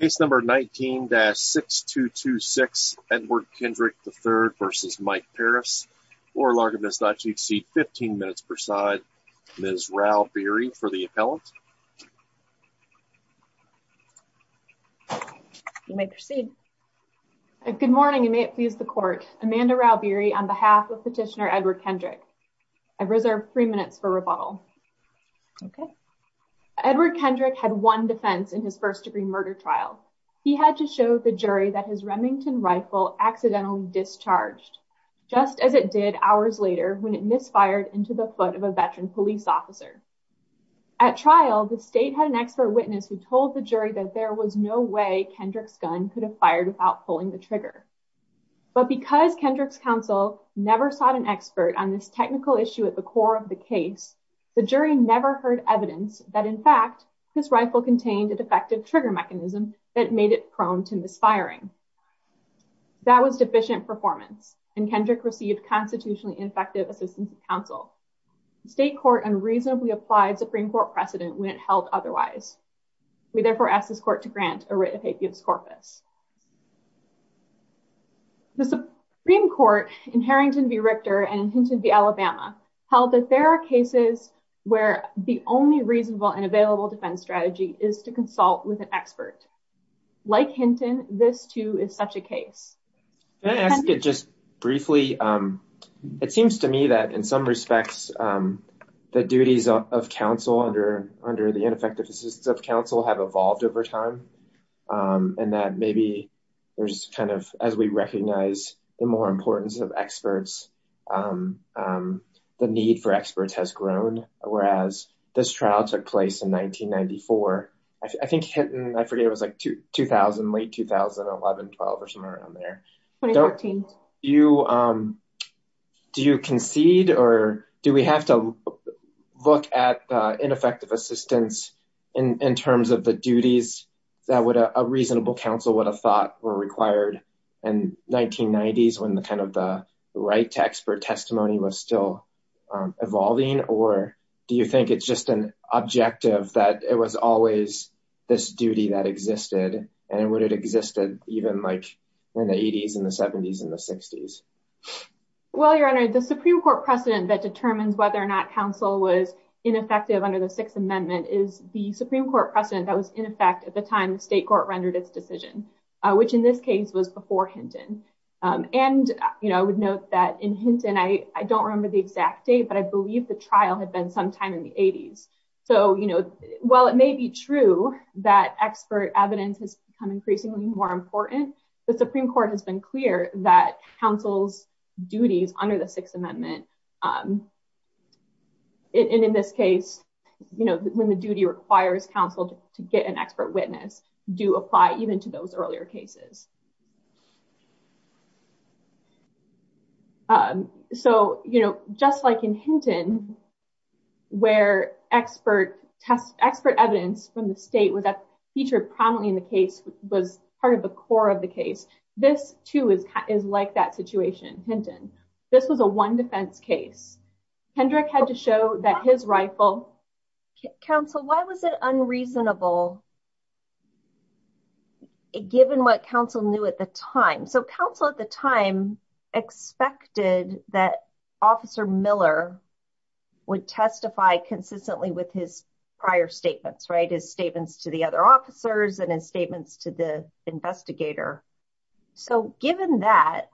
Case number 19-6226 Edward Kendrick III v. Mike Parris oral argument is not to exceed 15 minutes per side. Ms. Rao Beery for the appellant. You may proceed. Good morning and may it please the court. Amanda Rao Beery on behalf of Petitioner Edward Kendrick. I reserve three minutes for rebuttal. Okay. Edward Kendrick had one defense in his first degree murder trial. He had to show the jury that his Remington rifle accidentally discharged just as it did hours later when it misfired into the foot of a veteran police officer. At trial, the state had an expert witness who told the jury that there was no way Kendrick's gun could have fired without pulling the trigger. But because Kendrick's counsel never sought an expert on this technical issue at the core of the case, the jury never heard evidence that in fact his rifle contained a defective trigger mechanism that made it prone to misfiring. That was deficient performance and Kendrick received constitutionally ineffective assistance of counsel. The state court unreasonably applied Supreme Court precedent when it held otherwise. We therefore ask this court to grant a writ of habeas corpus. The Supreme Court in Harrington v. Richter and in Hinton v. Alabama held that there are cases where the only reasonable and available defense strategy is to consult with an expert. Like Hinton, this too is such a case. Can I ask it just briefly? It seems to me that in some respects the duties of counsel under the ineffective assistance of counsel have evolved over time and that maybe there's kind of, as we recognize the more importance of experts, the need for experts has grown. Whereas this trial took place in 1994. I think Hinton, I forget, it was like 2000, late 2011, 12 or somewhere around there. 2014. Do you concede or do we have to look at ineffective assistance in terms of the duties that would a reasonable counsel would have thought were required in 1990s when the kind of the right to expert testimony was still evolving? Or do you think it's just an objective that it was always this duty that existed and would it existed even like in the 80s and the 70s and the 60s? Well, your honor, the Supreme Court precedent that determines whether or not counsel was ineffective under the Sixth Amendment is the Supreme Court precedent that was in effect at the time the state court rendered its decision, which in this case was before Hinton. And, you know, I would note that in Hinton, I don't remember the exact date, but I believe the trial had been sometime in the 80s. So, you know, while it may be true that expert evidence has become increasingly more important, the Supreme Court has been clear that counsel's duties under the Sixth Amendment, and in this case, you know, when the duty requires counsel to get an expert witness do apply even to those earlier cases. So, you know, just like in Hinton, where expert test, expert evidence from the state was that featured prominently in the case was part of the core of the case. This too is is like that situation, Hinton. This was a one defense case. Kendrick had to show that his rifle. Counsel, why was it unreasonable? Given what counsel knew at the time, so counsel at the time, expected that Officer Miller would testify consistently with his prior statements, right, his statements to the other officers and his statements to the investigator. So given that,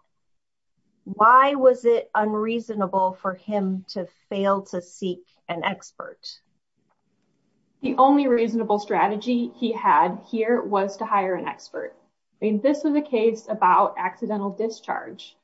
why was it unreasonable for him to fail to seek an expert? The only reasonable strategy he had here was to hire an expert. I mean, this was a case about accidental discharge.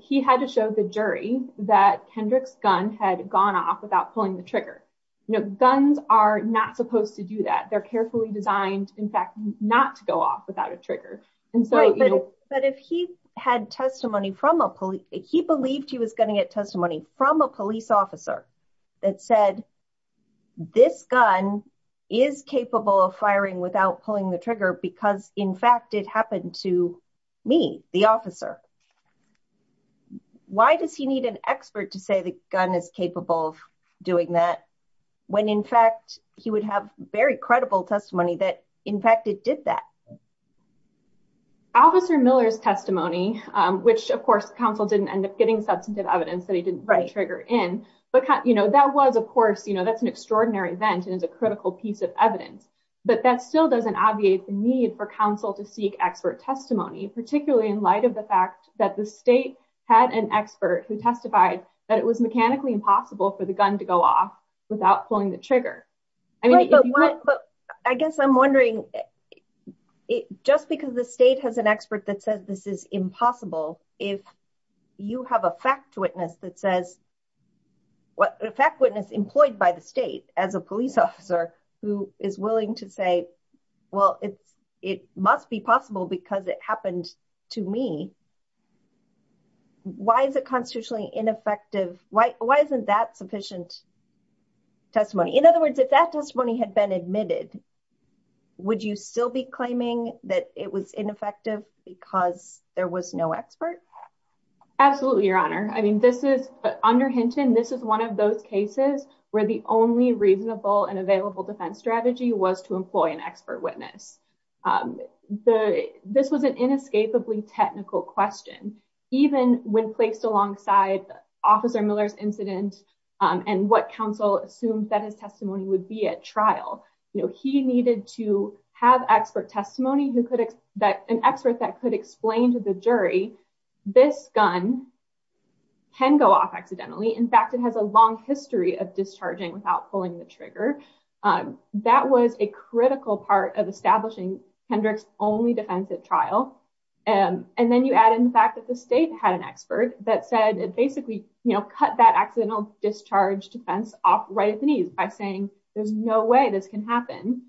He had to show the jury that Kendrick's gun had gone off without pulling the trigger. You know, guns are not supposed to do that. They're carefully designed, in fact, not to go off without a trigger. But if he had testimony from a police, he believed he was going to get testimony from a police officer that said, this gun is capable of firing without pulling the trigger, because in fact, it happened to me, the officer. Why does he need an expert to say the gun is capable of doing that? When in fact, he would have very credible testimony that in fact, it did that. Officer Miller's testimony, which of course, counsel didn't end up getting substantive evidence that he didn't trigger in. But, you know, that was, of course, you know, that's an extraordinary event and is a critical piece of evidence. But that still doesn't obviate the need for counsel to seek expert testimony, particularly in light of the fact that the state had an expert who testified that it was mechanically impossible for the gun to go off without pulling the trigger. I mean, I guess I'm wondering, just because the state has an expert that says this is impossible, if you have a fact witness that says, what a fact witness employed by the state as a police officer, who is willing to say, well, it's, it must be possible because it happened to me. Why is it constitutionally ineffective? Why isn't that sufficient testimony? In other words, if that testimony had been admitted, would you still be claiming that it was ineffective because there was no expert? Absolutely, Your Honor. I mean, this is under Hinton, this is one of those cases where the only reasonable and available defense strategy was to employ an expert witness. The, this was an inescapably technical question, even when placed alongside Officer Miller's incident and what counsel assumed that his testimony would be at trial. You know, he needed to have expert testimony who could, that an expert that could explain to the jury, this gun can go off accidentally. In fact, it has a long history of discharging without pulling the trigger. That was a critical part of establishing Kendrick's only defense at trial. And then you add in the fact that the state had an expert that said it basically, you know, cut that accidental discharge defense off right at the knees by saying, there's no way this can happen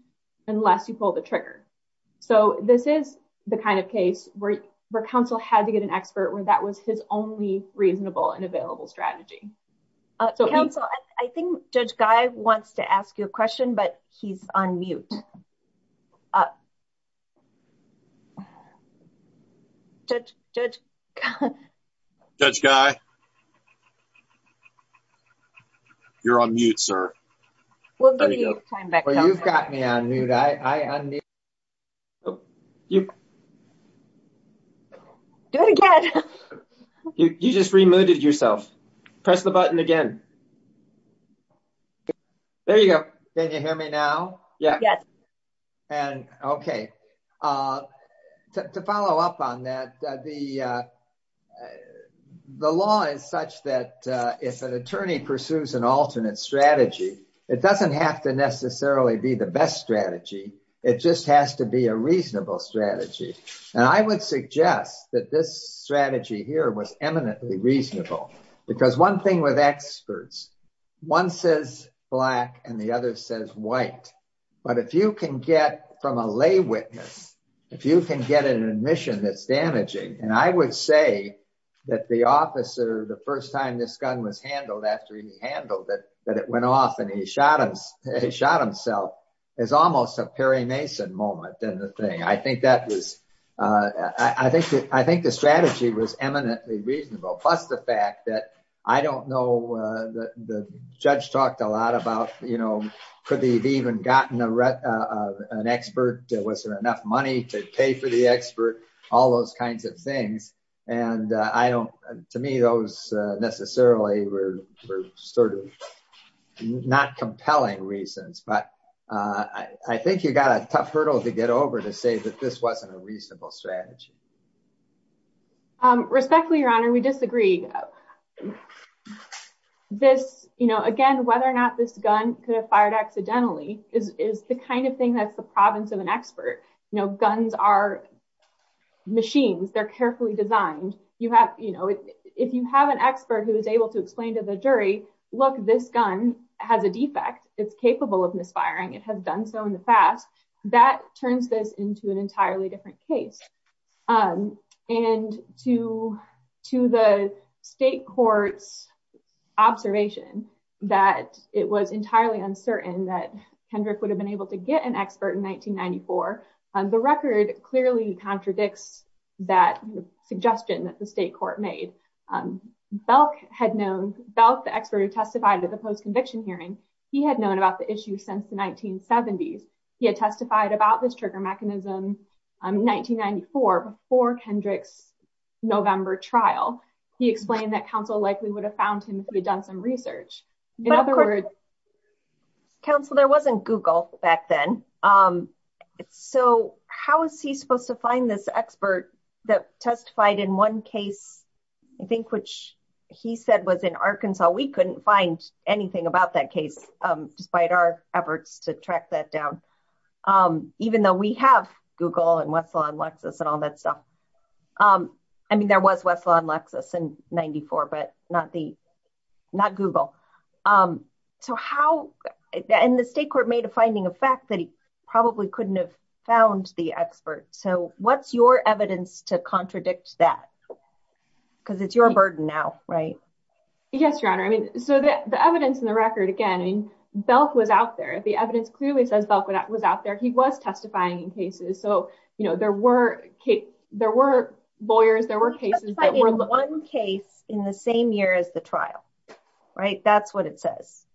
unless you pull the trigger. So this is the kind of case where, where counsel had to get an expert where that was his only reasonable and available strategy. So counsel, I think Judge Guy wants to ask you a question, but he's on mute. Judge, Judge. Judge Guy. You're on mute, sir. Well, you've got me on mute. I unmute. Oh, you. Do it again. You just remuted yourself. Press the button again. There you go. Can you hear me now? Yeah. Yes. And okay. To follow up on that, the the law is such that if an attorney pursues an alternate strategy, it doesn't have to just has to be a reasonable strategy. And I would suggest that this strategy here was eminently reasonable because one thing with experts, one says black and the other says white. But if you can get from a lay witness, if you can get an admission that's damaging, and I would say that the officer, the first time this gun was handled after he handled it, that it went off and he shot himself, it's almost a Perry Mason moment. I think that was, I think the strategy was eminently reasonable. Plus the fact that I don't know, the judge talked a lot about, you know, could they have even gotten an expert? Was there enough money to pay for the expert? All those kinds of things. And I don't, to me, those necessarily were sort of not compelling reasons, but I think you got a tough hurdle to get over to say that this wasn't a reasonable strategy. Respectfully, Your Honor, we disagree. This, you know, again, whether or not this gun could have fired accidentally is the kind of thing that's the province of an expert. You know, guns are machines. They're carefully designed. You have, you know, if you have an expert who is able to explain to the jury, look, this gun has a defect. It's capable of misfiring. It has done so in the past. That turns this into an entirely different case. And to the state court's observation that it was entirely uncertain that Kendrick would have been able to get an expert in 1994, the record clearly contradicts that suggestion that the state court made. Belk had known, Belk, the expert who testified at the post-conviction hearing, he had known about the issue since the 1970s. He had testified about this trigger mechanism in 1994 before Kendrick's November trial. He explained that counsel likely would have found him if he had done some research. In other words, counsel, there wasn't Google back then. So how is he supposed to find this expert that testified in one case, I think, which he said was in Arkansas. We couldn't find anything about that case, despite our efforts to track that down. Even though we have Google and Westlaw and Lexus and all that stuff. I mean, there was Westlaw and Lexus in 94, but not the, not Google. So how, and the state court made a finding of fact that he probably couldn't have found the expert. So what's your evidence to contradict that? Because it's your burden now, right? Yes, Your Honor. I mean, so the evidence in the record, again, I mean, Belk was out there. The evidence clearly says Belk was out there. He was testifying in cases. So, you know, there were there were lawyers, there were cases. One case in the same year as the trial, right? That's what it says.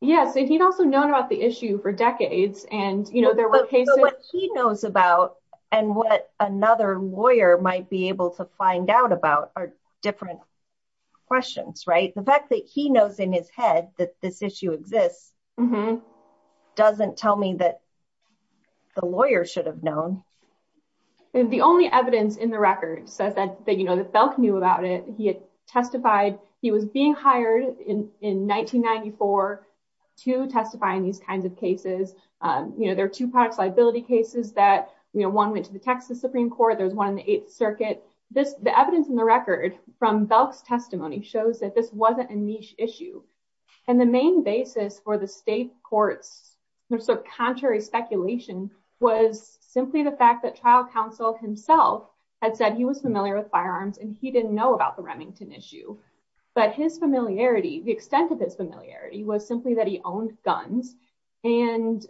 Yes. And he'd also known about the issue for decades. And, you know, there were cases he knows about and what another lawyer might be able to find out about are different questions, right? The fact that he knows in his head that this issue exists, it doesn't tell me that the lawyer should have known. And the only evidence in the record says that, you know, that Belk knew about it. He had testified, he was being hired in 1994 to testify in these kinds of cases. You know, there are two products liability cases that, you know, one went to the Texas Supreme Court. There's one in the Eighth Circuit. This, the evidence in the record from Belk's testimony shows that this wasn't a niche issue. And the main basis for the state court's sort of contrary speculation was simply the fact that trial counsel himself had said he was familiar with firearms and he didn't know about the Remington issue. But his familiarity, the extent of his familiarity was simply that he owned guns and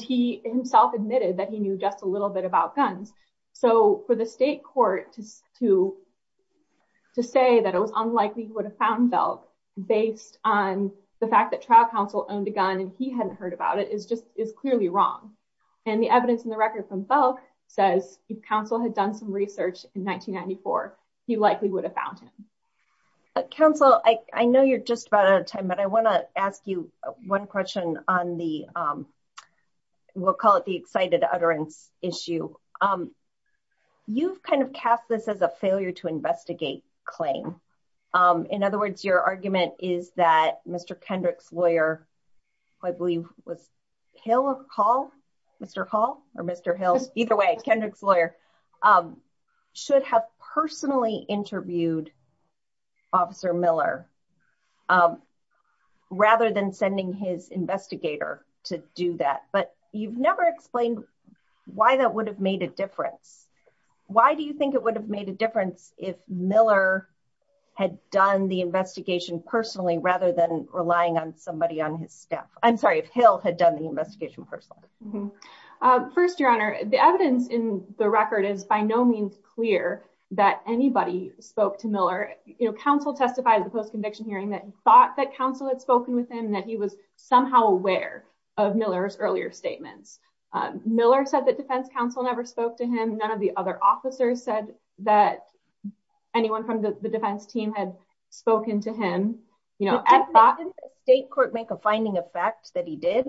he himself admitted that he knew just a little bit about guns. So for the state court to say that it was unlikely he would have found Belk based on the fact that trial counsel owned a gun and he hadn't heard about it is just, is clearly wrong. And the evidence in the record from Belk says if counsel had done some research in 1994, he likely would have found him. Counsel, I know you're just about out of time, but I want to ask you one question on the, we'll call it the excited utterance issue. You've kind of cast this as a failure to investigate claim. In other words, your argument is that Mr. Kendrick's lawyer, who I believe was Hill or Hall, Mr. Hall or Mr. Hill, either way, Kendrick's lawyer, should have personally interviewed Officer Miller rather than sending his investigator to do that. But you've never explained why that would have made a difference. Why do you think it would have made a difference if Miller had done the investigation personally rather than relying on somebody on his staff? I'm sorry, if Hill had done the investigation personally. First, Your Honor, the evidence in the record is by no means clear that anybody spoke to Miller. Counsel testified at the post-conviction hearing that he thought that counsel had spoken with him, that he was somehow aware of Miller's earlier statements. Miller said that defense counsel never spoke to him. None of the other officers said that anyone from the defense team had spoken to him. Didn't the state court make a finding of facts that he did?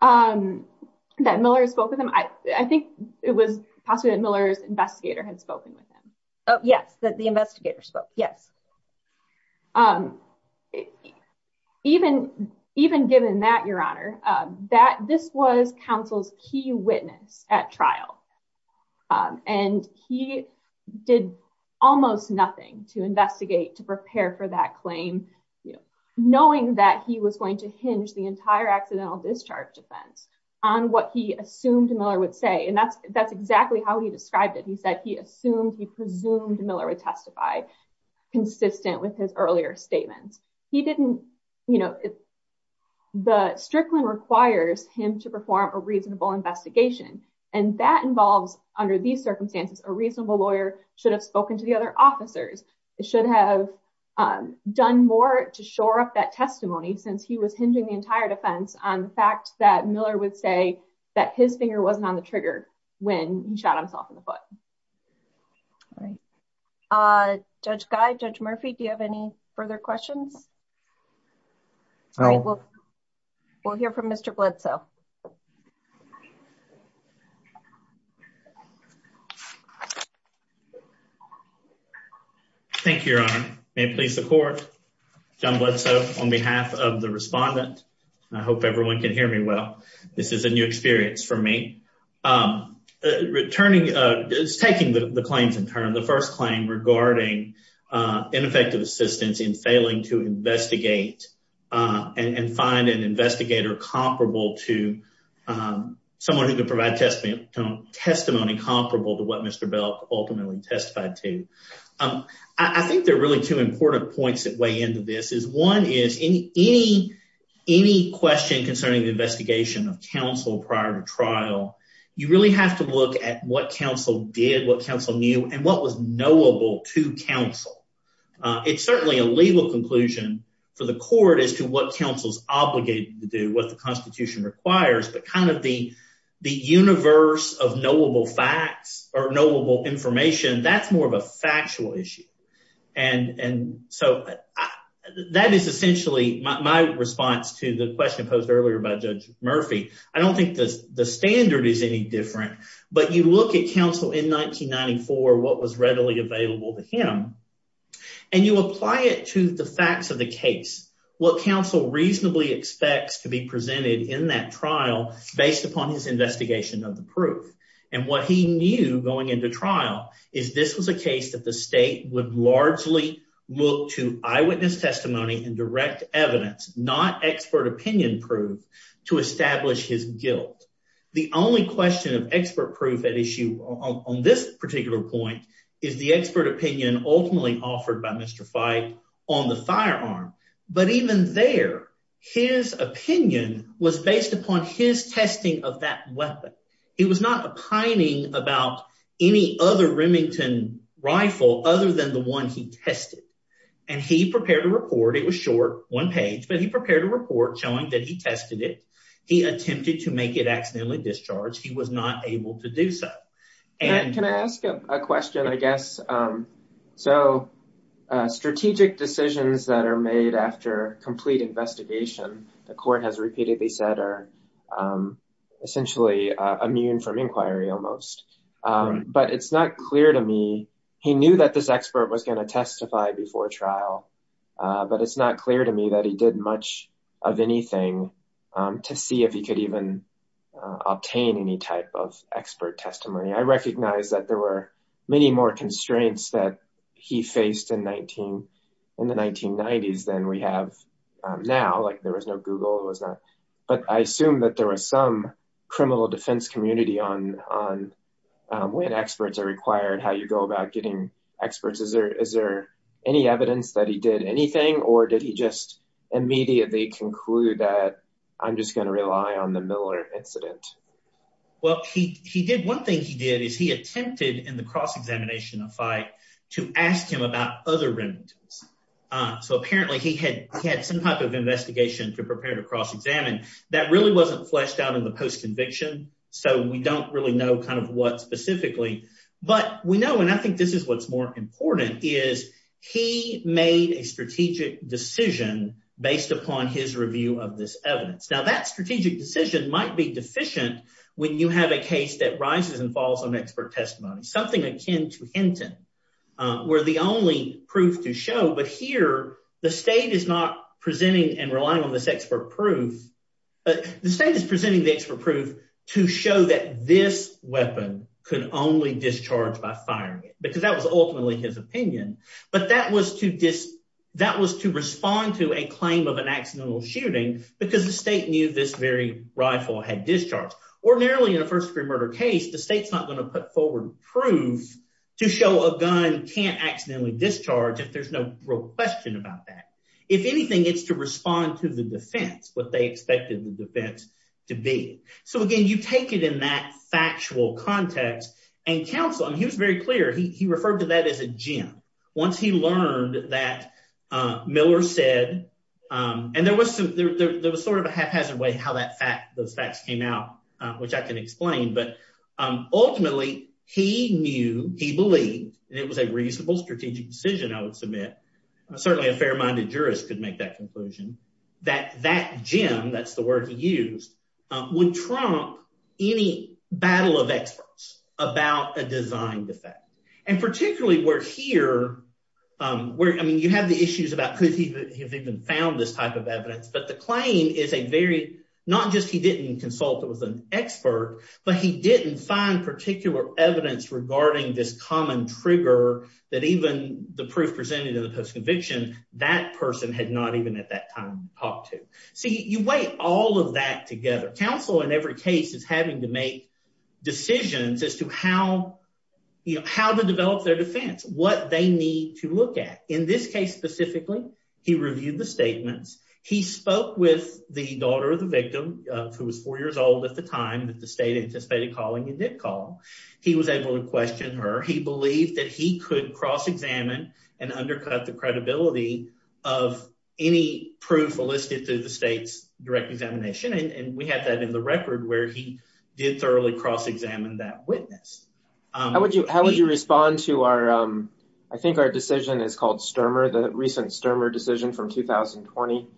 That Miller spoke with him? I think it was possible that Miller's investigator had spoken with him. Yes, that the investigator spoke. Yes. Even given that, Your Honor, this was counsel's key witness at trial, and he did almost nothing to investigate, to prepare for that claim, knowing that he was going to hinge the entire accidental discharge defense on what he assumed Miller would say. And that's exactly how he described it. He said he assumed, he presumed Miller would testify consistent with his earlier statements. The Strickland requires him to perform a reasonable investigation, and that involves, under these circumstances, a reasonable lawyer should have spoken to the other officers. It should have done more to shore up that testimony since he was hinging the entire defense on the fact that Miller would say that his finger wasn't on the trigger when he shot himself in the foot. All right. Judge Guy, Judge Murphy, do you have any further questions? We'll hear from Mr. Bledsoe. Thank you, Your Honor. May it please the court. John Bledsoe on behalf of the respondent. I hope everyone can hear me well. This is a new experience for me. Returning, taking the claims in turn, the first claim regarding ineffective assistance in failing to investigate and find an investigator comparable to someone who could provide testimony comparable to what Mr. Belk ultimately testified to. I think there are really two important points that weigh into this. One is, any question concerning the investigation of counsel prior to trial, you really have to look at what counsel did, what counsel knew, and what was knowable to counsel. It's certainly a legal conclusion for the court as to what counsel's obligated to do, what the Constitution requires, but kind of the universe of knowable facts or knowable information, that's more of a factual issue. And so that is essentially my response to the question posed earlier by Judge Murphy. I don't think the standard is any different, but you look at counsel in 1994, what was readily available to him, and you apply it to the facts of the case. What counsel reasonably expects to be presented in that trial, based upon his investigation of the proof, and what he knew going into trial, is this was a case that the state would largely look to eyewitness testimony and direct evidence, not expert opinion proof, to establish his guilt. The only question of expert proof at issue on this particular point is the expert opinion ultimately offered by Mr. Fyke on the firearm. But even there, his opinion was based upon his testing of that weapon. He was not opining about any other Remington rifle other than the one he tested. And he prepared a report, it was short, one page, but he prepared a report showing that he tested it, he attempted to make it accidentally discharged, he was not able to do so. Can I ask a question, I guess? So, strategic decisions that are made after complete investigation, the court has repeatedly said are essentially immune from inquiry almost. But it's not clear to me, he knew that this expert was going to testify before trial, but it's not clear to me that he did much of anything to see if he could even obtain any type of expert testimony. I recognize that there were many more constraints that he faced in the 1990s than we have now, like there was no Google. But I assume that there was some criminal defense community on when experts are required, how you go about getting experts. Is there any evidence that he did anything or did he just immediately conclude that I'm just going to rely on the Miller incident? Well, he did, one thing he did is he attempted in the cross-examination of fight to ask him about other Remingtons. So apparently he had some type of investigation to prepare to cross-examine that really wasn't fleshed out in the post-conviction, so we don't really know kind of what specifically. But we know, and I think this is what's more important, is he made a strategic decision based upon his review of this evidence. Now, that strategic decision might be deficient when you have a case that rises and falls on expert testimony. Something akin to Hinton were the only proof to show, but here the state is not presenting and relying on this expert proof, but the state is presenting the expert proof to show that this weapon could only discharge by firing it, because that was ultimately his opinion. But that was to respond to a claim of an accidental shooting because the state knew this very rifle had discharged. Ordinarily in a first degree murder case, the state's not going to put forward proof to show a gun can't accidentally discharge if there's no real question about that. If anything, it's to respond to the defense, what they expected the defense to be. So again, you take it in that factual context and counsel, and he was very clear. He referred to that as a gem. Once he learned that Miller said, and there was some, there was sort of a haphazard way how that fact, those facts came out, which I can explain, but ultimately he knew, he believed, and it was a reasonable strategic decision, I would submit, certainly a fair-minded jurist could make that conclusion, that that gem, that's the word he used, would trump any battle of experts about a design defect. And particularly where here, I mean, you have the issues about could he have even found this type of evidence, but the claim is a very, not just he didn't consult with an expert, but he didn't find particular evidence regarding this common trigger that even the proof presented in the post-conviction, that person had not even at that time talked to. So you weigh all of that together. Counsel, in every case, is having to make decisions as to how, you know, how to develop their defense, what they need to look at. In this case specifically, he reviewed the statements. He spoke with the daughter of the victim, who was four years old at the time, that the state anticipated calling and did call. He was able to question her. He believed that he could cross-examine and undercut the credibility of any proof elicited through the state's direct examination. And we have that in the record, where he did thoroughly cross-examine that witness. How would you respond to our, I think our decision is called Sturmer, the recent Sturmer decision from 2020,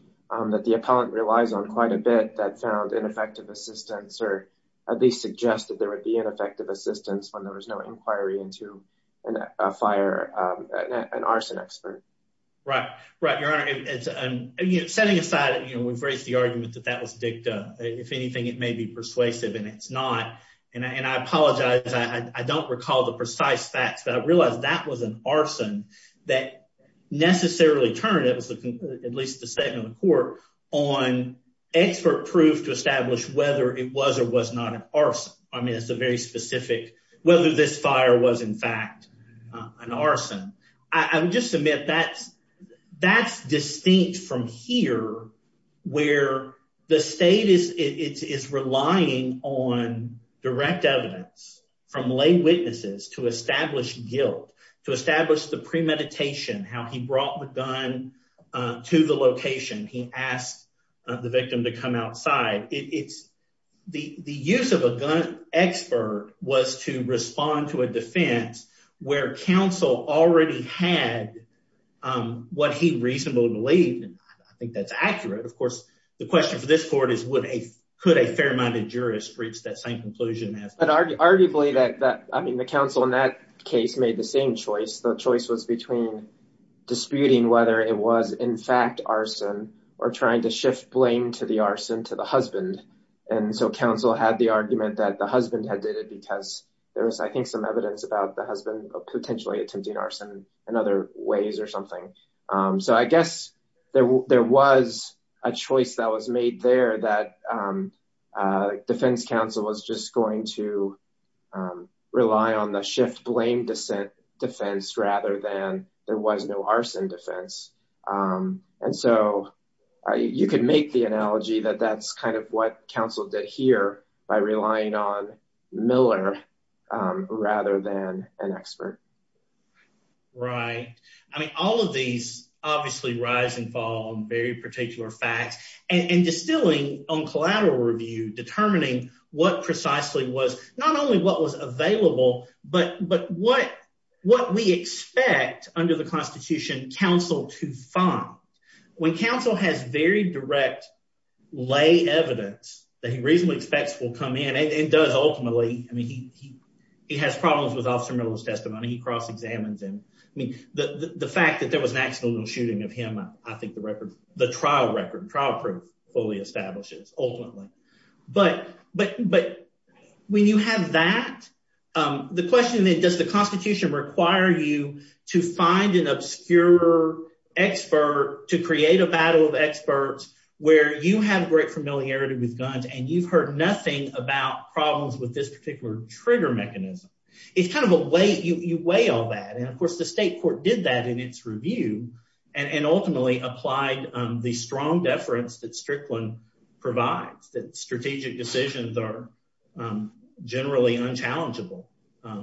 that the appellant relies on quite a bit that found ineffective assistance, or at least suggested there would be ineffective assistance when there was no inquiry into a fire, an arson expert. Right, right, Your Honor. Setting aside, you know, we've raised the argument that that was dicta. If anything, it may be persuasive, and it's not. And I apologize. I don't recall the precise facts, but I realize that was an arson that necessarily turned, at least the statement of the court, on expert proof to establish whether it was or was not an arson. I mean, it's a very specific, whether this fire was, in fact, an arson. I would just submit that's distinct from here, where the state is relying on direct evidence from lay witnesses to establish guilt, to establish the premeditation, how he brought the gun to the location, he asked the victim to come outside. It's, the use of a gun expert was to respond to a defense where counsel already had what he reasonably believed, and I think that's accurate. Of course, the question for this court is would a, could a fair-minded jurist reach that same conclusion? But arguably that, I mean, the counsel in that case made the same choice. The choice was between disputing whether it was, in fact, arson or trying to shift blame to the arson to the husband. And so counsel had the argument that the husband had did it because there was, I think, some evidence about the husband potentially attempting arson in other ways or something. So I guess there was a choice that was made there that defense counsel was just going to rely on the shift blame descent defense rather than there was no arson defense. And so you could make the analogy that that's kind of what counsel did here by relying on Miller rather than an expert. Right. I mean, all of these obviously rise and fall on very particular facts and distilling on collateral review, determining what precisely was not only what was available, but what we expect under the Constitution counsel to find. When counsel has very direct lay evidence that he reasonably expects will come in and does ultimately, I mean, he has problems with Officer Miller's testimony. He was an accidental shooting of him. I think the record, the trial record, trial proof fully establishes ultimately. But when you have that, the question then, does the Constitution require you to find an obscure expert to create a battle of experts where you have great familiarity with guns and you've heard nothing about problems with this particular trigger mechanism? It's kind of a way you weigh all that. And of course, the state court did that in its review and ultimately applied the strong deference that Strickland provides, that strategic decisions are generally unchallengeable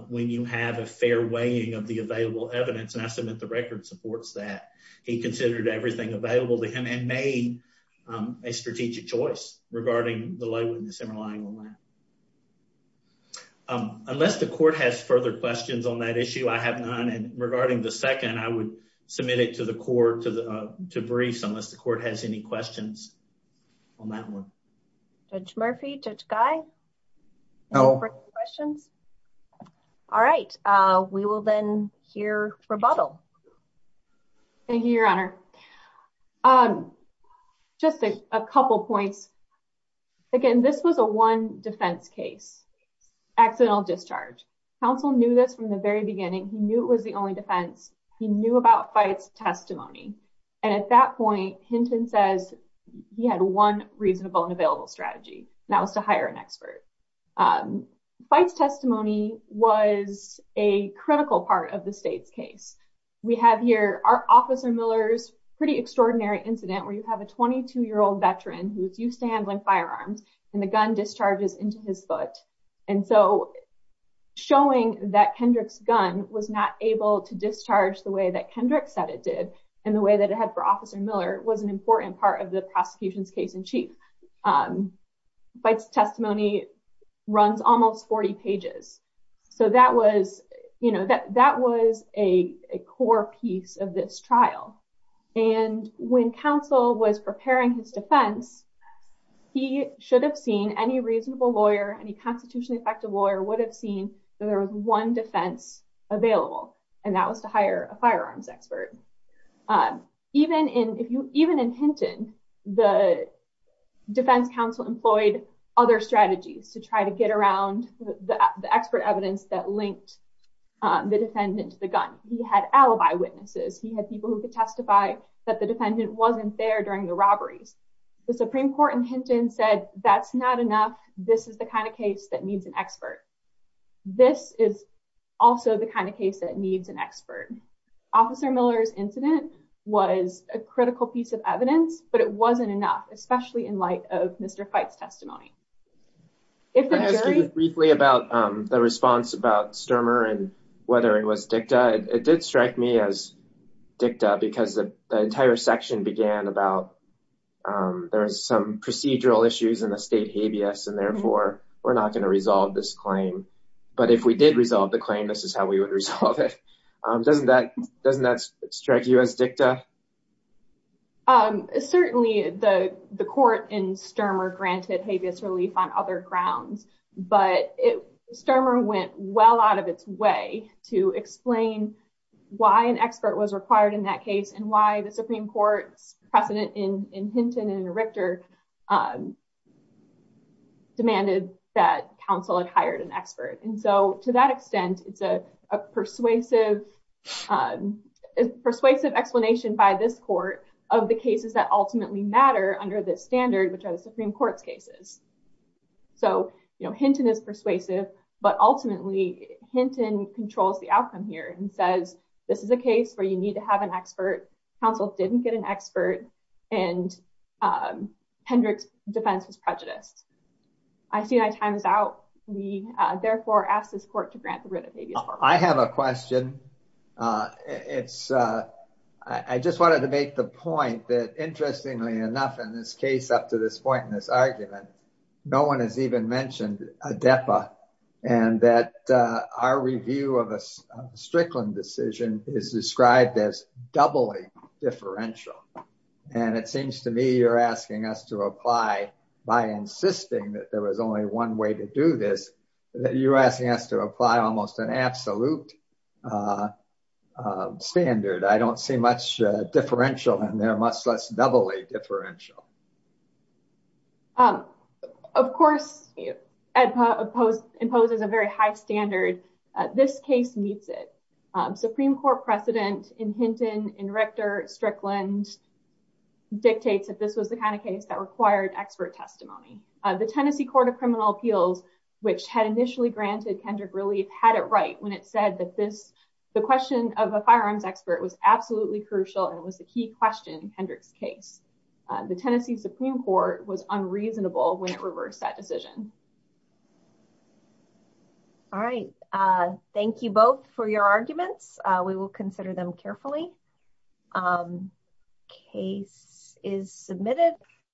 when you have a fair weighing of the available evidence. And I submit the record supports that. He considered everything available to him and made a strategic choice regarding the on that issue. I have none. And regarding the second, I would submit it to the court to briefs unless the court has any questions on that one. Judge Murphy, Judge Guy, questions? All right. We will then hear rebuttal. Thank you, Your Honor. Just a couple points. Again, this was a one defense case, accidental discharge. Counsel knew this from the very beginning. He knew it was the only defense. He knew about Fite's testimony. And at that point, Hinton says he had one reasonable and available strategy, and that was to hire an expert. Fite's testimony was a critical part of the state's case. We have here our Officer Miller's extraordinary incident where you have a 22-year-old veteran who is used to handling firearms and the gun discharges into his foot. And so showing that Kendrick's gun was not able to discharge the way that Kendrick said it did and the way that it had for Officer Miller was an important part of the prosecution's case in chief. Fite's testimony runs almost 40 pages. So that was a core piece of this trial. And when counsel was preparing his defense, he should have seen any reasonable lawyer, any constitutionally effective lawyer would have seen that there was one defense available, and that was to hire a firearms expert. Even in Hinton, the defense counsel employed other strategies to try to get around the expert evidence that linked the defendant to the gun. He had alibi witnesses. He had people who could testify that the defendant wasn't there during the robberies. The Supreme Court in Hinton said that's not enough. This is the kind of case that needs an expert. This is also the kind of case that needs an expert. Officer Miller's incident was a critical piece of evidence, but it wasn't enough, especially in light of Mr. Fite's testimony. Can I ask you briefly about the response about Sturmer and whether it was dicta? It did strike me as dicta because the entire section began about there was some procedural issues in the state habeas and therefore we're not going to resolve this claim. But if we did resolve the claim, this is how we would resolve it. Doesn't that strike you as dicta? Certainly, the court in Sturmer granted habeas relief on other grounds, but Sturmer went well out of its way to explain why an expert was required in that case and why the Supreme Court's precedent in Hinton and in Richter demanded that counsel had hired an expert. To that extent, it's a persuasive explanation by this court of the cases that ultimately matter under this standard, which are the Supreme Court's cases. So, you know, Hinton is persuasive, but ultimately Hinton controls the outcome here and says this is a case where you need to have an expert. Counsel didn't get an expert and Hendrick's defense was prejudiced. I see my time is out. We therefore ask this court to grant the writ of habeas. I have a question. I just wanted to make the point that interestingly enough in this case, up to this point in this argument, no one has even mentioned a depa and that our review of a Strickland decision is described as doubly differential. And it seems to me you're asking us to apply almost an absolute standard. I don't see much differential in there, much less doubly differential. Of course, it imposes a very high standard. This case meets it. Supreme Court precedent in Hinton, in Richter, Strickland dictates that this was the kind of case that required expert testimony. The Tennessee Court of Criminal Appeals, which had initially granted Hendrick relief, had it right when it said that this, the question of a firearms expert was absolutely crucial and was the key question in Hendrick's case. The Tennessee Supreme Court was unreasonable when it reversed that decision. All right. Thank you both for your arguments. We will consider them carefully. Case is submitted.